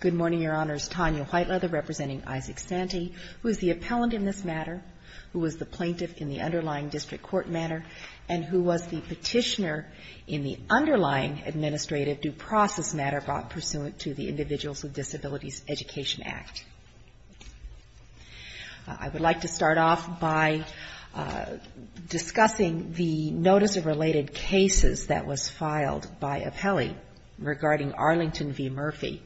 Good morning, Your Honors. Tanya Whiteleather representing Isaac Santee, who is the appellant in this matter, who was the plaintiff in the underlying district court matter, and who was the petitioner in the underlying administrative due process matter brought pursuant to the Individuals with Disabilities Education Act. I would like to start off by discussing the notice of related cases that was filed by appellee regarding Arlington v. Murphy.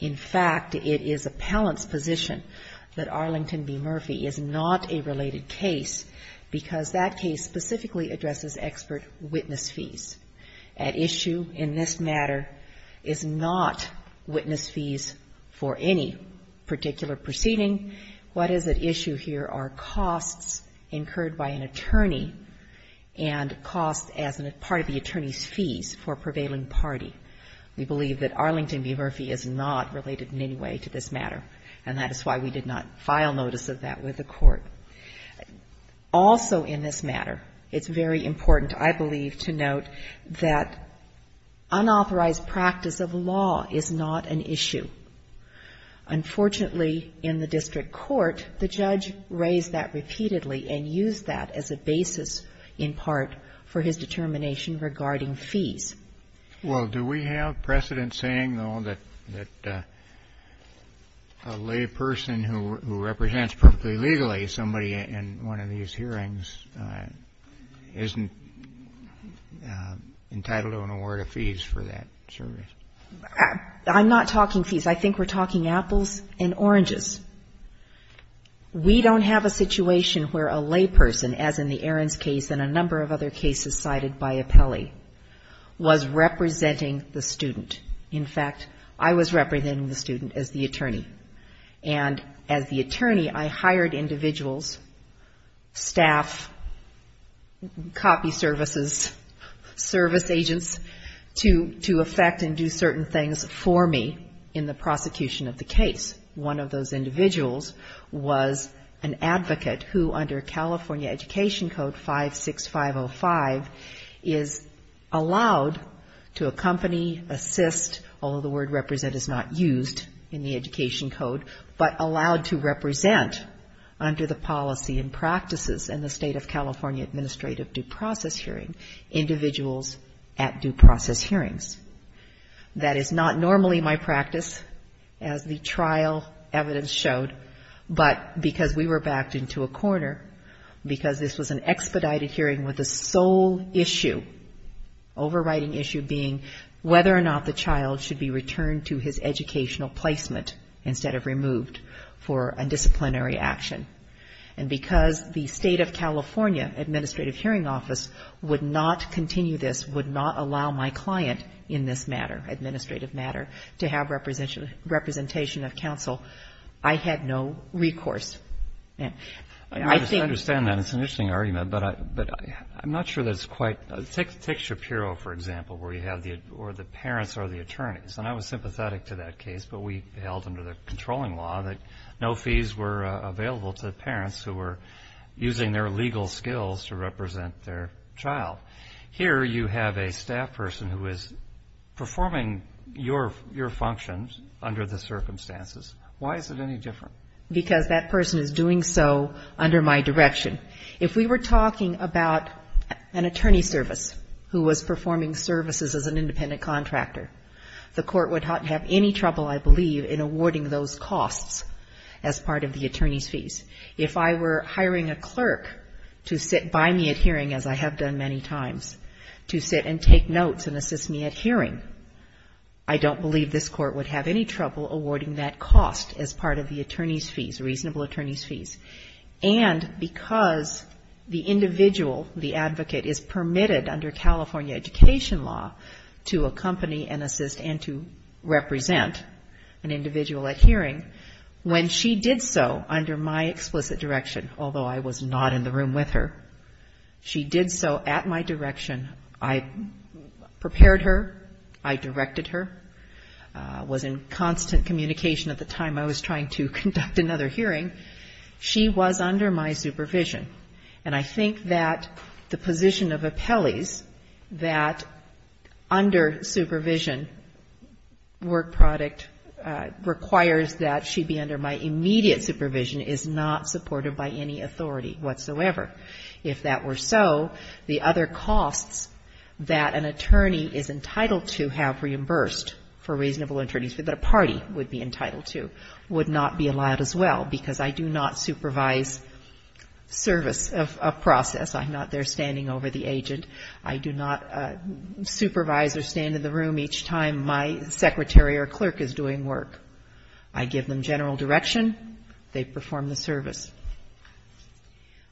In fact, it is appellant's position that Arlington v. Murphy is not a related case because that case specifically addresses expert witness fees. At issue in this matter is not witness fees for any particular proceeding. What is at issue here are costs incurred by an attorney and costs as a part of the attorney's fees for prevailing party. We believe that Arlington v. Murphy is not related in any way to this matter, and that is why we did not file notice of that with the Court. Also in this matter, it's very important, I believe, to note that unauthorized practice of law is not an issue. Unfortunately, in the district court, the judge raised that repeatedly and used that as a basis in part for his determination regarding fees. Well, do we have precedent saying, though, that a lay person who represents perfectly legally somebody in one of these hearings isn't entitled to an award of fees for that service? I'm not talking fees. I think we're talking apples and oranges. We don't have a situation where a lay person, as in the Ahrens case and a number of other cases cited by appellee, was representing the student. In fact, I was representing the student as the attorney. And as the attorney, I hired individuals, staff, copy services, service agents, to affect and do certain things for me in the prosecution of the case. One of those individuals was an advocate who, under California Education Code 56505, is allowed to accompany, assist although the word represent is not used in the Education Code, but allowed to represent, under the policy and practices in the State of California Administrative Due Process Hearing, individuals at due process hearings. That is not normally my practice, as the trial evidence showed, but because we were backed into a corner, because this was an expedited hearing with a sole issue, overriding issue being whether or not the child should be returned to his educational placement instead of removed for a disciplinary action. And because the State of California Administrative Hearing Office would not continue this, would not allow my client in this matter, administrative matter, to have representation of counsel, I had no recourse. And I think you're saying that it's an interesting argument, but I'm not sure that it's quite right. Take Shapiro, for example, where you have the parents are the attorneys. And I was sympathetic to that case, but we held under the controlling law that no fees were available to the parents who were using their legal skills to represent their child. Here you have a staff person who is performing your functions under the circumstances. Why is it any different? Because that person is doing so under my direction. If we were talking about an attorney service who was performing services as an independent contractor, the Court would have any trouble, I believe, in awarding those costs as part of the attorney's fees. If I were hiring a clerk to sit by me at hearing, as I have done many times, to sit and take notes and assist me at hearing, I don't believe this Court would have any trouble awarding that cost as part of the attorney's fees, reasonable attorney's fees. And because the individual, the advocate, is permitted under California education law to accompany and assist and to represent an individual at hearing, when she did so under my explicit direction, although I was not in the room with her, she did so at my direction, I prepared her, I directed her, was in constant communication at the time I was trying to conduct another hearing. She was under my supervision. And I think that the position of appellees, that under supervision, work product requires that she be under my immediate supervision, is not supported by any authority whatsoever. If that were so, the other costs that an attorney is entitled to have reimbursed for reasonable attorney's fees, that a party would be entitled to, would not be allowed as well, because I do not supervise service of a process. I'm not there standing over the agent. I do not supervise or stand in the room each time my secretary or clerk is doing work. I give them general direction, they perform the service.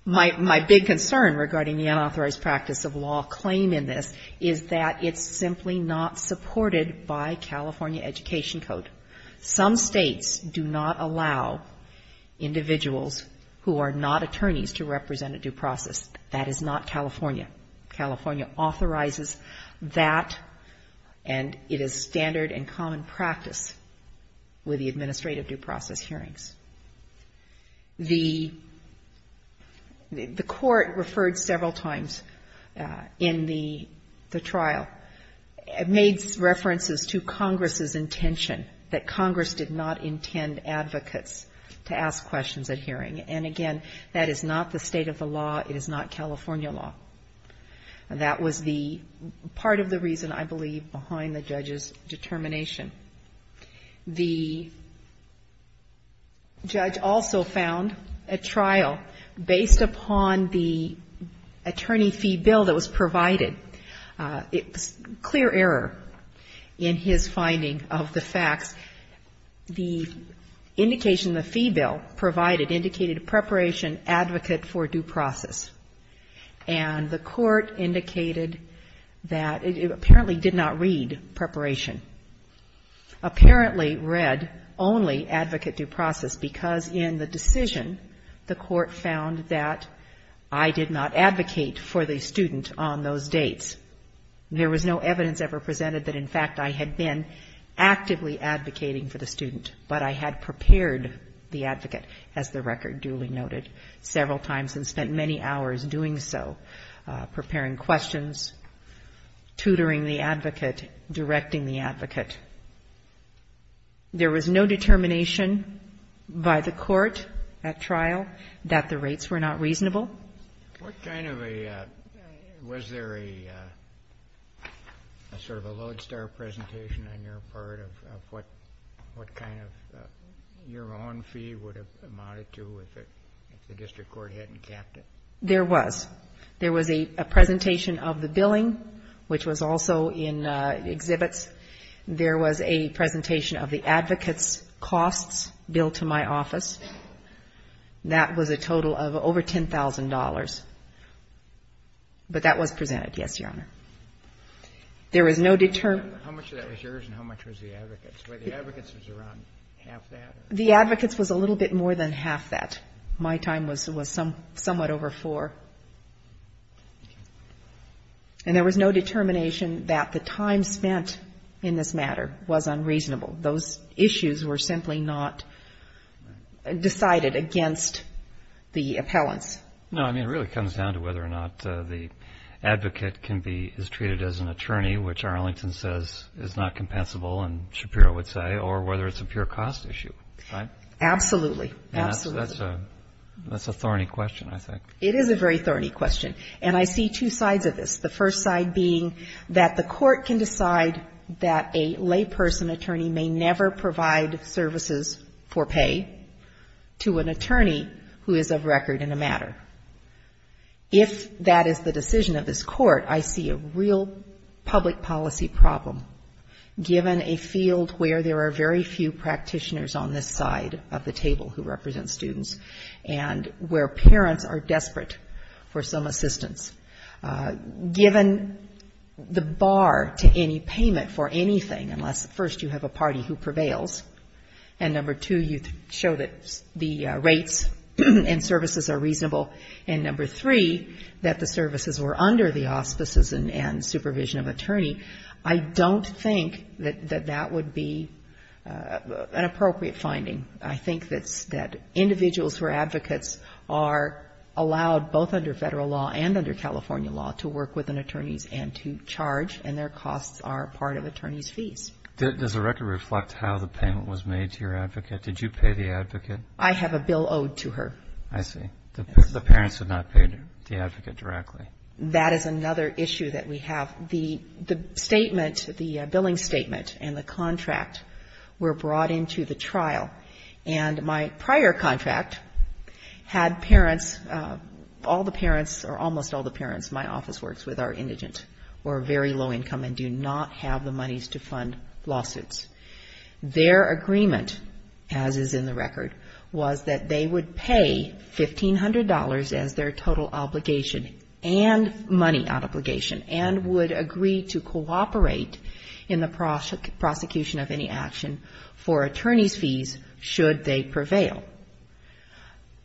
My big concern regarding the unauthorized practice of law claim in this is that it's California Education Code. Some states do not allow individuals who are not attorneys to represent a due process. That is not California. California authorizes that and it is standard and common practice with the administrative due process hearings. The court referred several times in the trial, made references to Congress's intention, that Congress did not intend advocates to ask questions at hearing, and again, that is not the state of the law, it is not California law. That was the part of the reason, I believe, behind the judge's determination. The judge also found a trial based upon the attorney fee bill that was provided. It was clear error in his finding of the facts. The indication the fee bill provided indicated preparation advocate for due process. And the court indicated that it apparently did not read preparation. Apparently read only advocate due process because in the decision the court found that I did not advocate for the student on those dates. There was no evidence ever presented that in fact I had been actively advocating for the student, but I had prepared the advocate, as the record duly noted, several times and spent many hours doing so, preparing questions, tutoring the advocate, directing the advocate. There was no determination by the court at trial that the rates were not reasonable. What kind of a, was there a sort of a lodestar presentation on your part of what kind of your own fee would have amounted to if the district court hadn't capped it? There was. There was a presentation of the billing, which was also in exhibits. There was a presentation of the advocate's costs billed to my office. That was a total of over $10,000. But that was presented, yes, Your Honor. There was no determined How much of that was yours and how much was the advocate's? The advocate's was a little bit more than half that. My time was somewhat over four. And there was no determination that the time spent in this matter was unreasonable. Those issues were simply not decided against the appellants. No, I mean, it really comes down to whether or not the advocate can be, is treated as an attorney, which Arlington says is not compensable, and Shapiro would say, or whether it's a pure cost issue. Right? Absolutely. Absolutely. And that's a thorny question, I think. It is a very thorny question. And I see two sides of this. The first side being that the court can decide that a layperson attorney may never provide services for pay to an attorney who is of record in a matter. If that is the decision of this court, I see a real problem public policy problem, given a field where there are very few practitioners on this side of the table who represent students, and where parents are desperate for some assistance. Given the bar to any payment for anything, unless, first, you have a party who prevails, and number two, you show that the rates and services are reasonable, and number three, that the payment is reasonable, and number four, that there is a provision of attorney, I don't think that that would be an appropriate finding. I think that individuals who are advocates are allowed, both under Federal law and under California law, to work with an attorney and to charge, and their costs are part of attorney's fees. Does the record reflect how the payment was made to your advocate? Did you pay the advocate? I have a bill owed to her. I see. The parents have not paid the advocate directly. That is another issue that we have. The statement, the billing statement and the contract were brought into the trial, and my prior contract had parents, all the parents, or almost all the parents, my office works with, are indigent or very low income and do not have the monies to fund lawsuits. Their agreement, as is in the record, was that they would pay $1,500 as their total obligation and money obligation, and would agree to cooperate in the prosecution of any action for attorney's fees, should they prevail.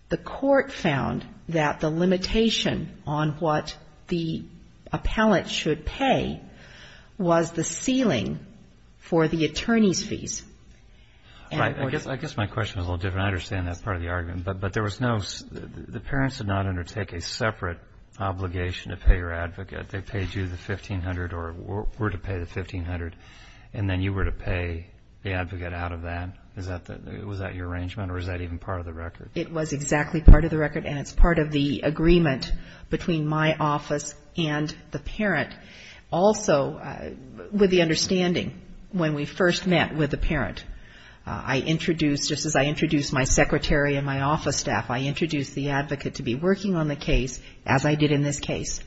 The court found that the limitation on what the appellate should pay was the ceiling for the attorney's fees. I guess my question is a little different. I understand that's part of the argument, but there was no, the parents did not undertake a separate obligation to pay your advocate. They paid you the $1,500 or were to pay the $1,500, and then you were to pay the advocate out of that. Was that your arrangement, or was that even part of the record? It was exactly part of the record, and it's part of the agreement between my office and the parent. Also, with the understanding, when we first met with the parent, I introduced, just as I introduced my secretary and my office staff, I introduced the advocate to be working on the case, as I did in this case,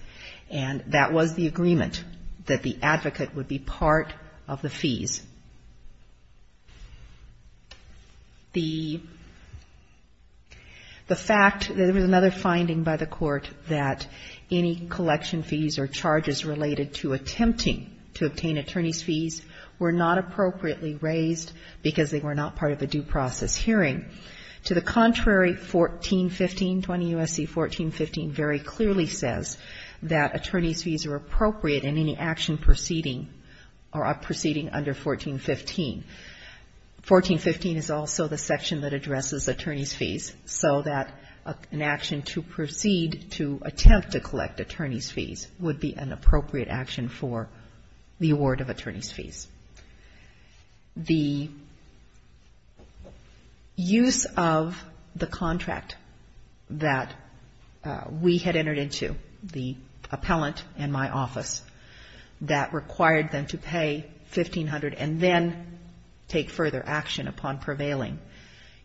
and that was the agreement, that the advocate would be part of the fees. The fact, there was another finding by the court that any collection fees or charges related to attempting to obtain attorney's fees were not appropriately raised because they were not part of a due process hearing. To the contrary, 1415, 20 U.S.C. 1415, very clearly says that attorney's fees are appropriate in any action proceeding, or proceeding under 1415. 1415 is also the section that addresses attorney's fees, so that an action to proceed to attempt to collect attorney's fees would be an appropriate action for the award of attorney's fees. The use of the contract that we had entered into, the appellant and my office, that required them to pay $1,500 or $1,500 and then take further action upon prevailing,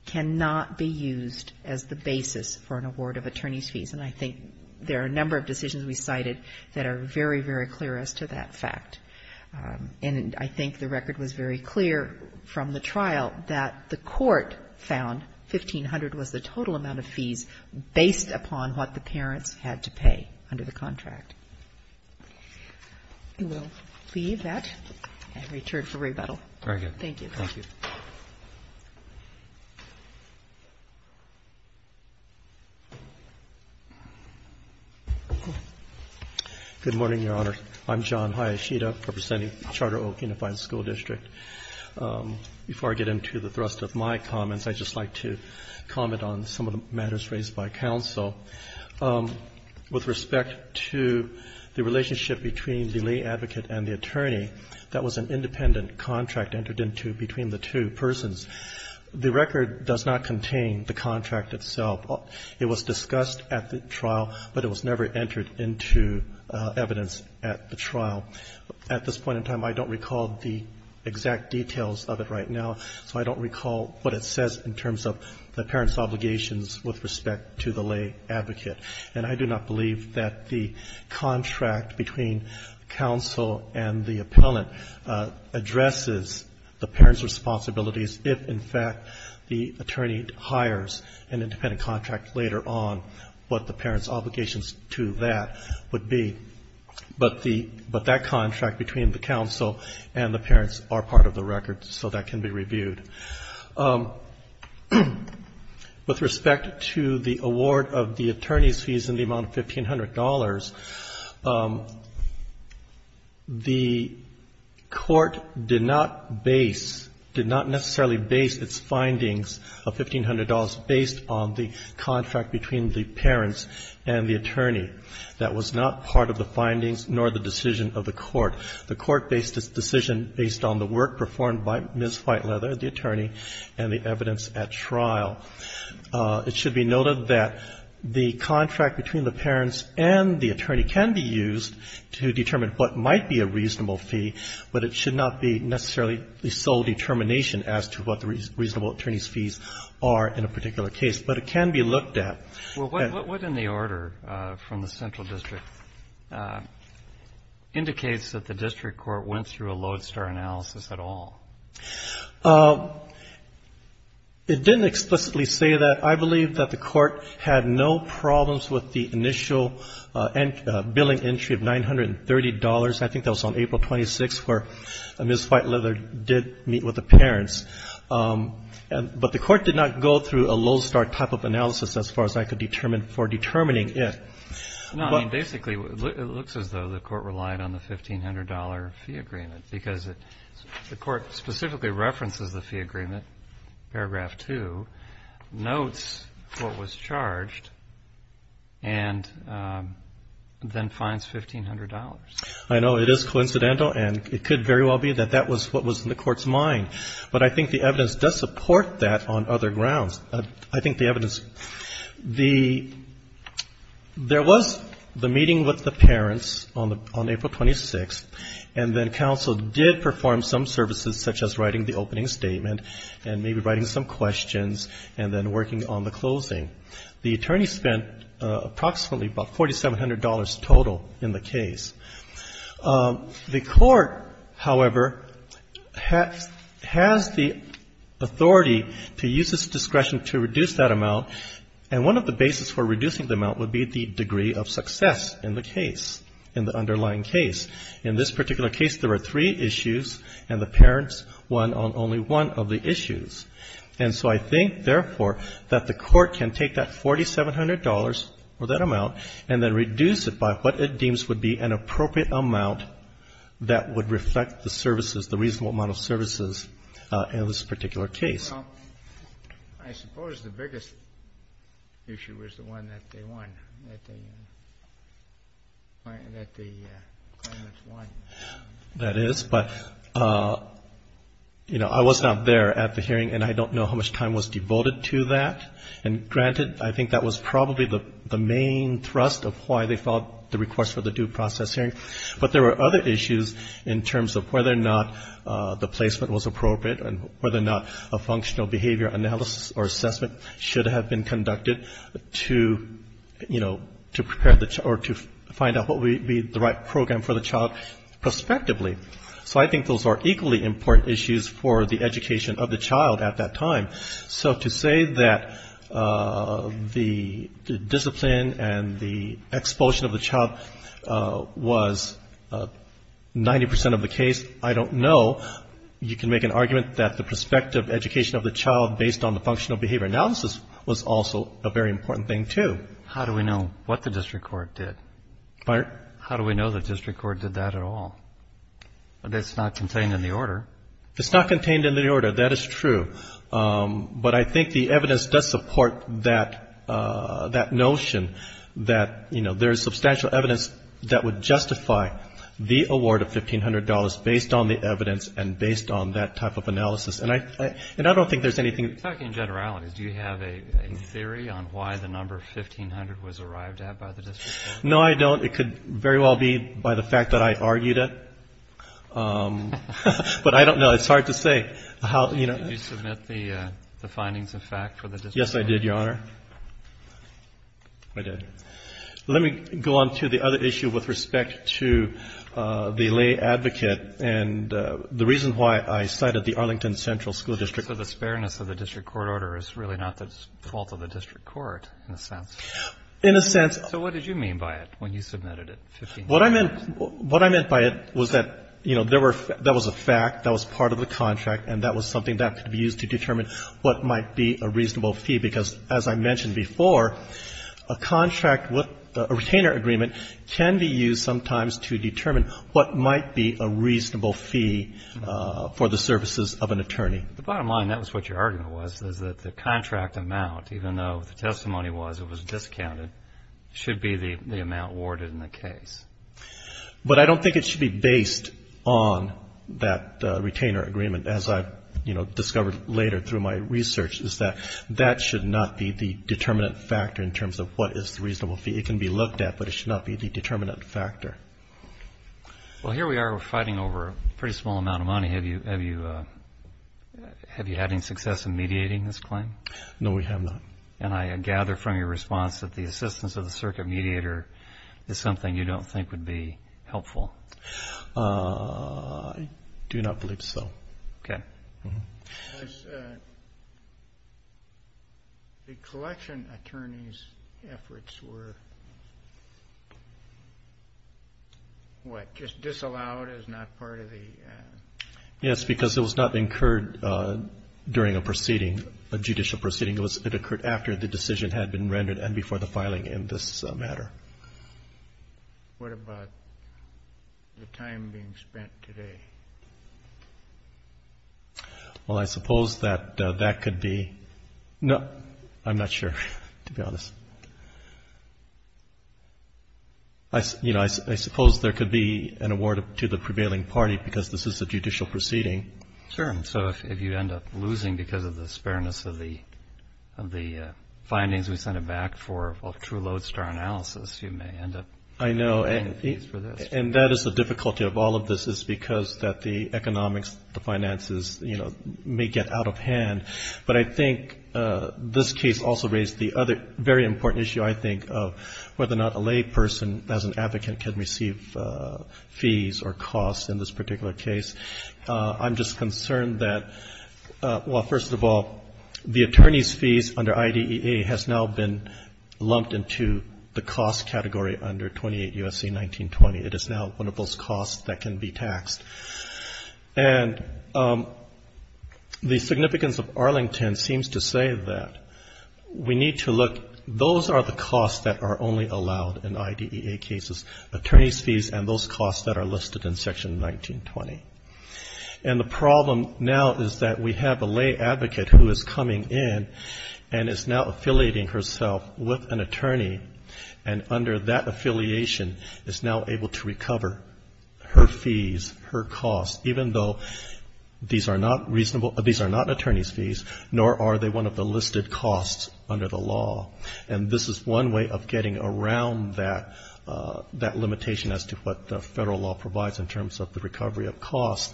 cannot be used as the basis for an award of attorney's fees. And I think there are a number of decisions we cited that are very, very clear as to that fact. And I think the record was very clear from the trial that the court found $1,500 was the total amount of fees based upon what the parents had to pay under the contract. We will leave that and return for rebuttal. Thank you. Good morning, Your Honor. I'm John Hayashida representing Charter Oak Unified School District. Before I get into the thrust of my comments, I'd just like to comment on some of the matters raised by counsel. With respect to the relationship between the lay advocate and the attorney, that was an independent contract entered into between the two persons. The record does not contain the contract itself. It was discussed at the trial, but it was never entered into evidence at the trial. At this point in time, I don't recall the exact details of it right now, so I don't recall what it says in terms of the parents' obligations with respect to the lay advocate. And I do not believe that the contract between counsel and the appellant addresses the parents' responsibilities if, in fact, the attorney hires an independent contract later on, what the parents' obligations to that would be. But that contract between the counsel and the parents are part of the record, so that can be reviewed. With respect to the award of the attorney's fees in the amount of $1,500, the Court did not base, did not necessarily base its findings of $1,500 based on the contract between the parents and the attorney. That was not part of the findings nor the decision of the Court. The Court based its decision based on the work performed by Ms. Whiteleather, the attorney, and the evidence at trial. It should be noted that the contract between the parents and the attorney can be used to determine what might be a reasonable fee, but it should not be necessarily the sole determination as to what the reasonable attorney's fees are in a particular case. But it can be looked at. Well, what in the order from the central district indicates that the district court went through a lodestar analysis at all? It didn't explicitly say that. I believe that the Court had no problems with the initial billing entry of $930. I think that was on April 26th, where Ms. Whiteleather did meet with the parents. But the Court did not go through a lodestar type of analysis as far as I could determine for determining it. No, I mean, basically it looks as though the Court relied on the $1,500 fee agreement, because the Court specifically references the fee agreement, paragraph two, notes what was charged, and then finds $1,500. I know. It is coincidental, and it could very well be that that was what was in the Court's mind. I think the evidence does support that on other grounds. I think the evidence, the, there was the meeting with the parents on April 26th, and then counsel did perform some services, such as writing the opening statement and maybe writing some questions and then working on the closing. The attorney spent approximately about $4,700 total in the case. The Court, however, has the authority to use its discretion to reduce that amount, and one of the basis for reducing the amount would be the degree of success in the case, in the underlying case. In this particular case, there were three issues, and the parents won on only one of the issues. And so I think, therefore, that the Court can take that $4,700, or that amount, and then reduce it by what it deems would be an appropriate amount that would reflect the services, the reasonable amount of services in this particular case. I suppose the biggest issue was the one that they won, that they, that the parents won. That is, but, you know, I was not there at the hearing, and I don't know how much time was devoted to that. And granted, I think that was probably the main thrust of why they filed the request for the due process hearing, but there were other issues in terms of whether or not the placement was appropriate, and whether or not a functional behavior analysis or assessment should have been conducted to, you know, to prepare the, or to find out what would be the right program for the child, prospectively. So I think those are equally important issues for the education of the child at that time. So to say that the discipline and the expulsion of the child was 90% of the case, I don't know. You can make an argument that the prospective education of the child based on the functional behavior analysis was also a very important thing, too. How do we know what the district court did? How do we know the district court did that at all? It's not contained in the order. It's not contained in the order. That is true. But I think the evidence does support that notion that, you know, there is substantial evidence that would justify the award of $1,500 based on the evidence and based on that type of analysis. And I don't think there's anything. In generalities, do you have a theory on why the number 1,500 was arrived at by the district court? No, I don't. It could very well be by the fact that I argued it. But I don't know. It's hard to say. Did you submit the findings of fact for the district court? Yes, I did, Your Honor. I did. Let me go on to the other issue with respect to the lay advocate and the reason why I cited the Arlington Central School District. The reason for the spareness of the district court order is really not the fault of the district court, in a sense. In a sense. So what did you mean by it when you submitted it, $1,500? What I meant by it was that, you know, that was a fact, that was part of the contract, and that was something that could be used to determine what might be a reasonable fee. Because, as I mentioned before, a contract with a retainer agreement can be used sometimes to determine what might be a reasonable fee for the services of an attorney. The bottom line, that was what your argument was, is that the contract amount, even though the testimony was it was discounted, should be the amount awarded in the case. But I don't think it should be based on that retainer agreement, as I, you know, discovered later through my research, is that that should not be the determinant factor in terms of what is the reasonable fee. It can be looked at, but it should not be the determinant factor. Well, here we are, we're fighting over a pretty small amount of money. Have you had any success in mediating this claim? No, we have not. And I gather from your response that the assistance of the circuit mediator is something you don't think would be helpful. I do not believe so. The collection attorney's efforts were, what, just disallowed as not part of the... Yes, because it was not incurred during a proceeding, a judicial proceeding. It was incurred after the decision had been rendered and before the filing in this matter. What about the time being spent today? Well, I suppose that that could be... I'm not sure, to be honest. You know, I suppose there could be an award to the prevailing party, because this is a judicial proceeding. Sure. So if you end up losing because of the spareness of the findings we sent it back for, well, true lodestar analysis, you may end up paying the fees for this. I know, and that is the difficulty of all of this, is because that the economics, the finances, you know, may get out of hand. But I think this case also raised the other very important issue, I think, of whether or not a lay person as an advocate can receive fees or costs in this particular case. I'm just concerned that, well, first of all, the attorney's fees under IDEA has now been lumped into the cost category under 28 U.S.C. 1920. It is now one of those costs that can be taxed. And the significance of Arlington seems to say that we need to look, those are the costs that are only allowed in IDEA cases, attorney's fees and those costs that are listed in Section 1920. And the problem now is that we have a lay advocate who is coming in and is now affiliating herself with an attorney, and under that affiliation is now able to recover her fees, her costs, even though these are not reasonable, these are not attorney's fees, nor are they one of the listed costs under the law. And this is one way of getting around that limitation as to what the federal law says. The federal law provides in terms of the recovery of costs,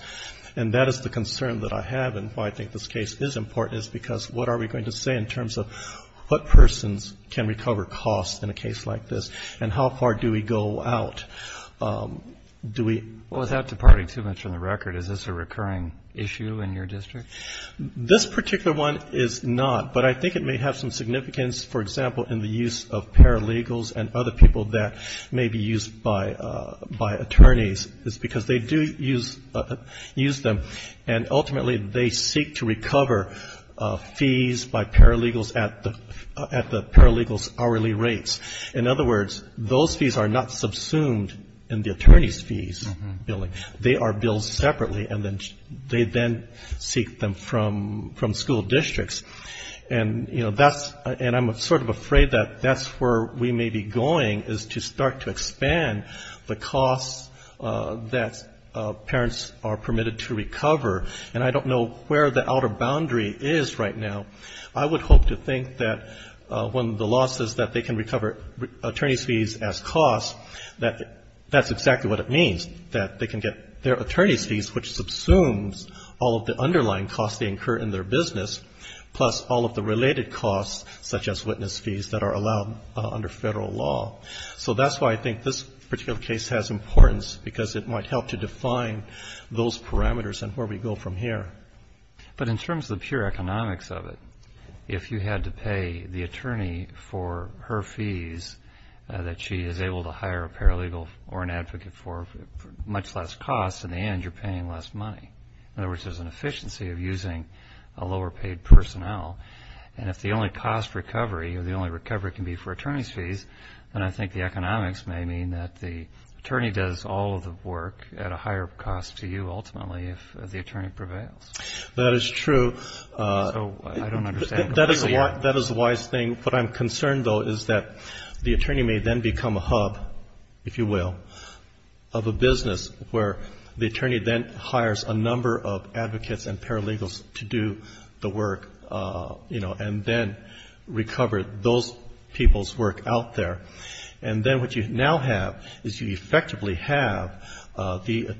and that is the concern that I have, and why I think this case is important, is because what are we going to say in terms of what persons can recover costs in a case like this, and how far do we go out? Do we... Well, without departing too much from the record, is this a recurring issue in your district? This particular one is not, but I think it may have some significance, for example, in the use of paralegals and other people that may be used by attorneys, because they do use them, and ultimately they seek to recover fees by paralegals at the paralegals' hourly rates. In other words, those fees are not subsumed in the attorney's fees. They are billed separately, and they then seek them from school districts. And, you know, that's... And I'm sort of afraid that that's where we may be going, is to start to expand the costs that parents are permitted to recover, and I don't know where the outer boundary is right now. I would hope to think that when the law says that they can recover attorney's fees as costs, that that's exactly what it means. That they can get their attorney's fees, which subsumes all of the underlying costs they incur in their business, plus all of the related costs, such as witness fees that are allowed under federal law. So that's why I think this particular case has importance, because it might help to define those parameters and where we go from here. But in terms of the pure economics of it, if you had to pay the attorney for her fees, that she is able to hire a paralegal or an advocate for much less costs, in the end you're paying less money. In other words, there's an efficiency of using a lower paid personnel, and if the only cost recovery, or the only recovery can be for attorney's fees, then I think the economics may mean that the attorney does all of the work at a higher cost to you, ultimately, if the attorney prevails. That is true. That is a wise thing. What I'm concerned, though, is that the attorney may then become a hub, if you will, of a business where the attorney then hires a number of advocates and paralegals to do the work, you know, and then recover those people's work out there. And then what you now have is you effectively have the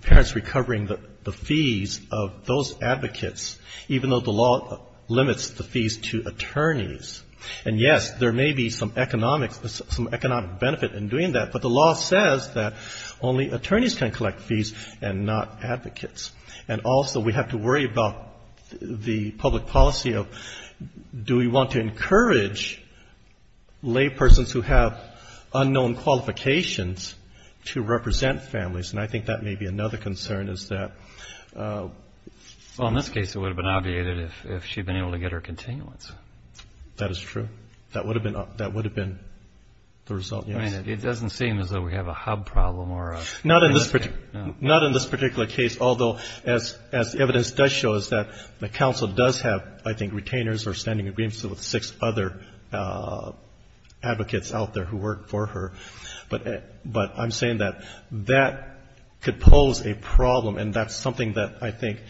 parents recovering the fees of those advocates, even though the law limits the fees to families. And yes, there may be some economic benefit in doing that, but the law says that only attorneys can collect fees and not advocates. And also we have to worry about the public policy of do we want to encourage lay persons who have unknown qualifications to represent families? And I think that may be another concern is that... That would have been the result, yes. I mean, it doesn't seem as though we have a hub problem or a... Not in this particular case, although, as evidence does show, is that the counsel does have, I think, retainers or standing agreements with six other advocates out there who work for her. But I'm saying that that could pose a problem, and that's something that I think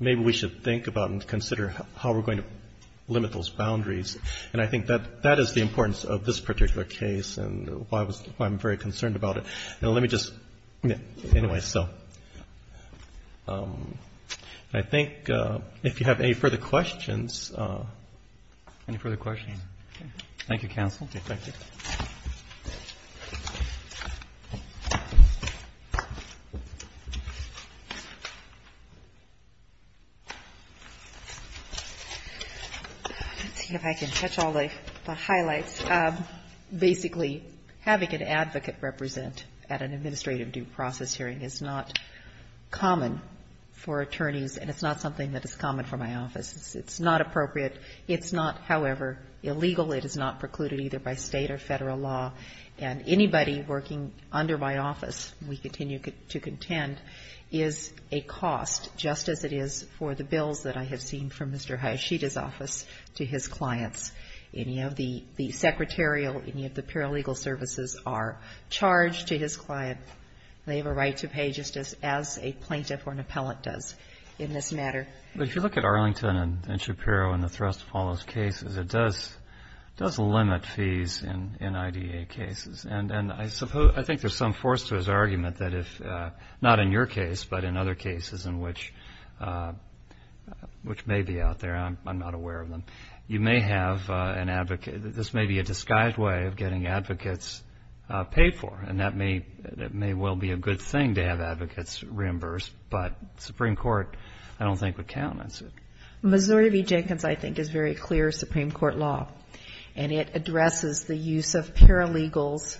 maybe we should think about and consider how we're going to limit those boundaries. And I think that that is the importance of this particular case, and why I'm very concerned about it. And let me just... Anyway, so... I think if you have any further questions... Thank you, counsel. Let's see if I can catch all the highlights. Basically, having an advocate represent at an administrative due process hearing is not common for attorneys, and it's not something that is common for my office. It's not appropriate. It's not, however, illegal. It is not precluded either by State or Federal law. And anybody working under my office, we continue to contend, is a cost, just as it is for the bills that I have in my office. I have seen from Mr. Hayashida's office to his clients, any of the secretarial, any of the paralegal services are charged to his client. They have a right to pay, just as a plaintiff or an appellant does in this matter. But if you look at Arlington and Shapiro and the Thrust follows cases, it does limit fees in IDA cases. And I suppose, I think there's some force to his argument that if, not in your case, but in other cases in which we have a case where a plaintiff or an appellant, which may be out there, I'm not aware of them, you may have an advocate, this may be a disguised way of getting advocates paid for. And that may well be a good thing to have advocates reimbursed, but Supreme Court, I don't think, would countenance it. Missouri v. Jenkins, I think, is very clear Supreme Court law. And it addresses the use of paralegals,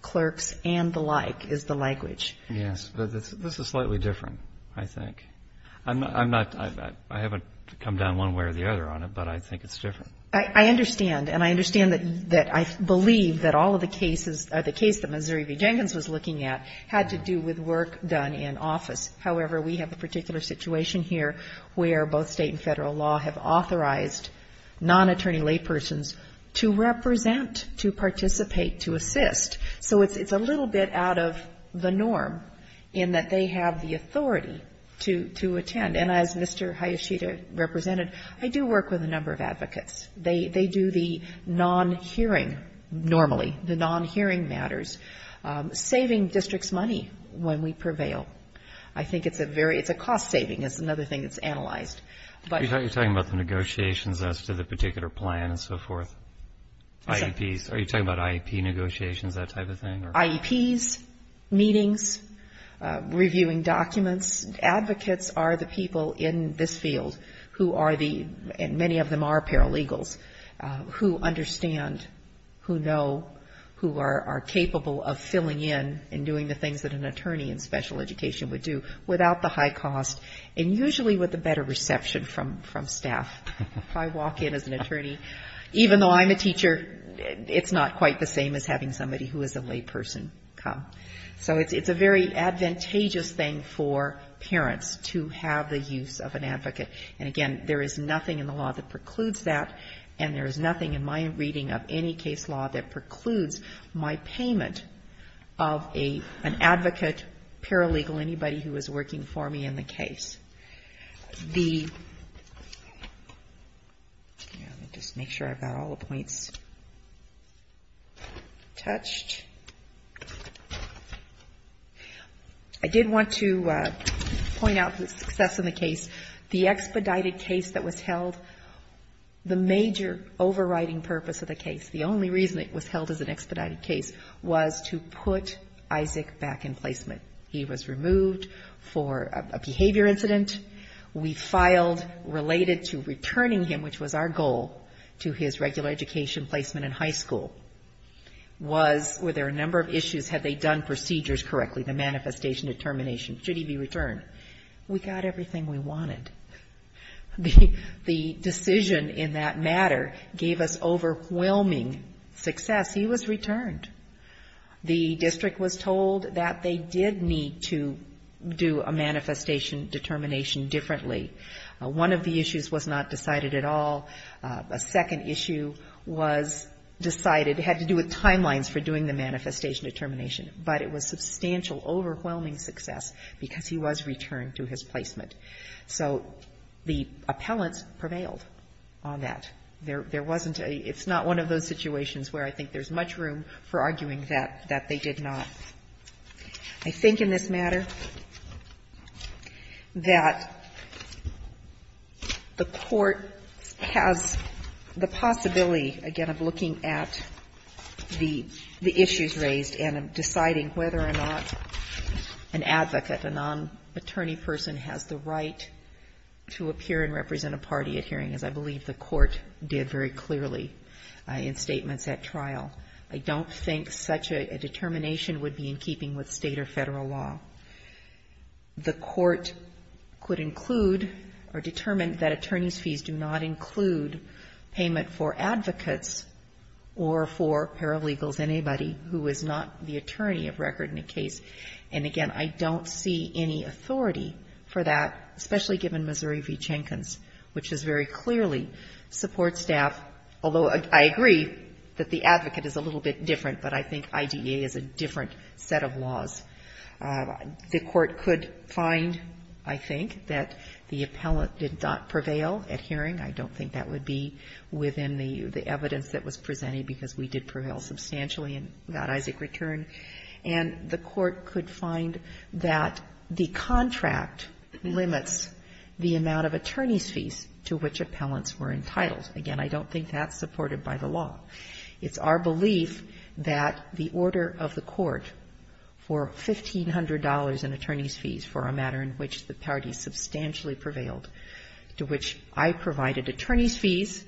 clerks, and the like, is the language. Yes, but this is slightly different, I think. I haven't come down one way or the other on it, but I think it's different. I understand. And I understand that I believe that all of the cases, the case that Missouri v. Jenkins was looking at, had to do with work done in office. However, we have a particular situation here where both state and federal law have authorized non-attorney laypersons to represent, to perform, in that they have the authority to attend. And as Mr. Hayashida represented, I do work with a number of advocates. They do the non-hearing normally, the non-hearing matters, saving districts money when we prevail. I think it's a very, it's a cost-saving is another thing that's analyzed. Are you talking about the negotiations as to the particular plan and so forth? IEPs, are you talking about IEP negotiations, that type of thing? IEPs, meetings, reviewing documents. Advocates are the people in this field who are the, and many of them are paralegals, who understand, who know, who are capable of filling in and doing the things that an attorney in special education would do without the high cost, and usually with a better reception from staff. If I walk in as an attorney, even though I'm a teacher, it's not quite the same as having somebody who is a layperson. So it's a very advantageous thing for parents to have the use of an advocate. And again, there is nothing in the law that precludes that, and there is nothing in my reading of any case law that precludes my payment of an advocate, paralegal, anybody who is working for me in the case. The, let me just make sure I've got all the points touched. I did want to point out the success of the case. The expedited case that was held, the major overriding purpose of the case, the only reason it was held as an expedited case was to put Isaac back in placement. He was removed for a behavior incident. We filed related to returning him, which was our goal, to his regular education placement in high school, was, were there a number of other reasons? What issues had they done procedures correctly, the manifestation, the termination? Should he be returned? We got everything we wanted. The decision in that matter gave us overwhelming success. He was returned. The district was told that they did need to do a manifestation determination differently. One of the issues was not decided at all. A second issue was decided, had to do with timelines for doing the manifestation determination. But it was substantial, overwhelming success because he was returned to his placement. So the appellants prevailed on that. There wasn't a – it's not one of those situations where I think there's much room for arguing that, that they did not. The possibility, again, of looking at the issues raised and deciding whether or not an advocate, a non-attorney person, has the right to appear and represent a party at hearings, I believe the Court did very clearly in statements at trial. I don't think such a determination would be in keeping with State or Federal law. The Court could include or determine that attorney's fees do not include payment for advocates or for paralegals, anybody who is not the attorney of record in a case. And again, I don't see any authority for that, especially given Missouri v. Jenkins, which has very clearly support staff, although I agree that the advocate is a little bit different, but I think IDEA is a different set of laws. The Court could find, I think, that the appellant did not prevail at hearing. I don't think that would be within the evidence that was presented, because we did prevail substantially in that Isaac return. And the Court could find that the contract limits the amount of attorney's fees to which appellants were entitled. Again, I don't think that's supported by the law. It's our belief that the order of the Court for $1,500 in attorney's fees for a matter in which the parties substantially prevailed, to which I provided attorney's fees,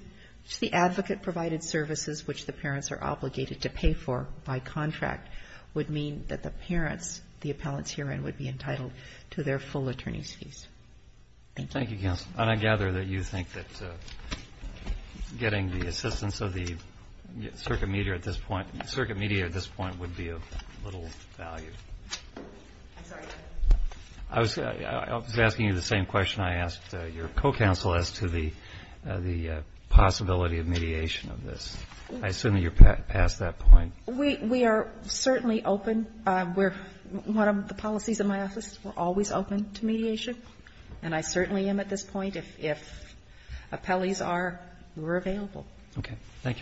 to the advocate provided services which the parents are obligated to pay for by contract, would mean that the parents, the appellants herein, would be entitled to their full attorney's fees. Thank you. Thank you, counsel. And I gather that you think that getting the assistance of the circuit mediator at this point would be of little value. I'm sorry? I was asking you the same question I asked your co-counsel as to the possibility of mediation of this. I assume that you're past that point. We are certainly open. One of the policies in my office, we're always open to mediation, and I certainly am at this point. If appellees are, we're available. Okay. Thank you very much.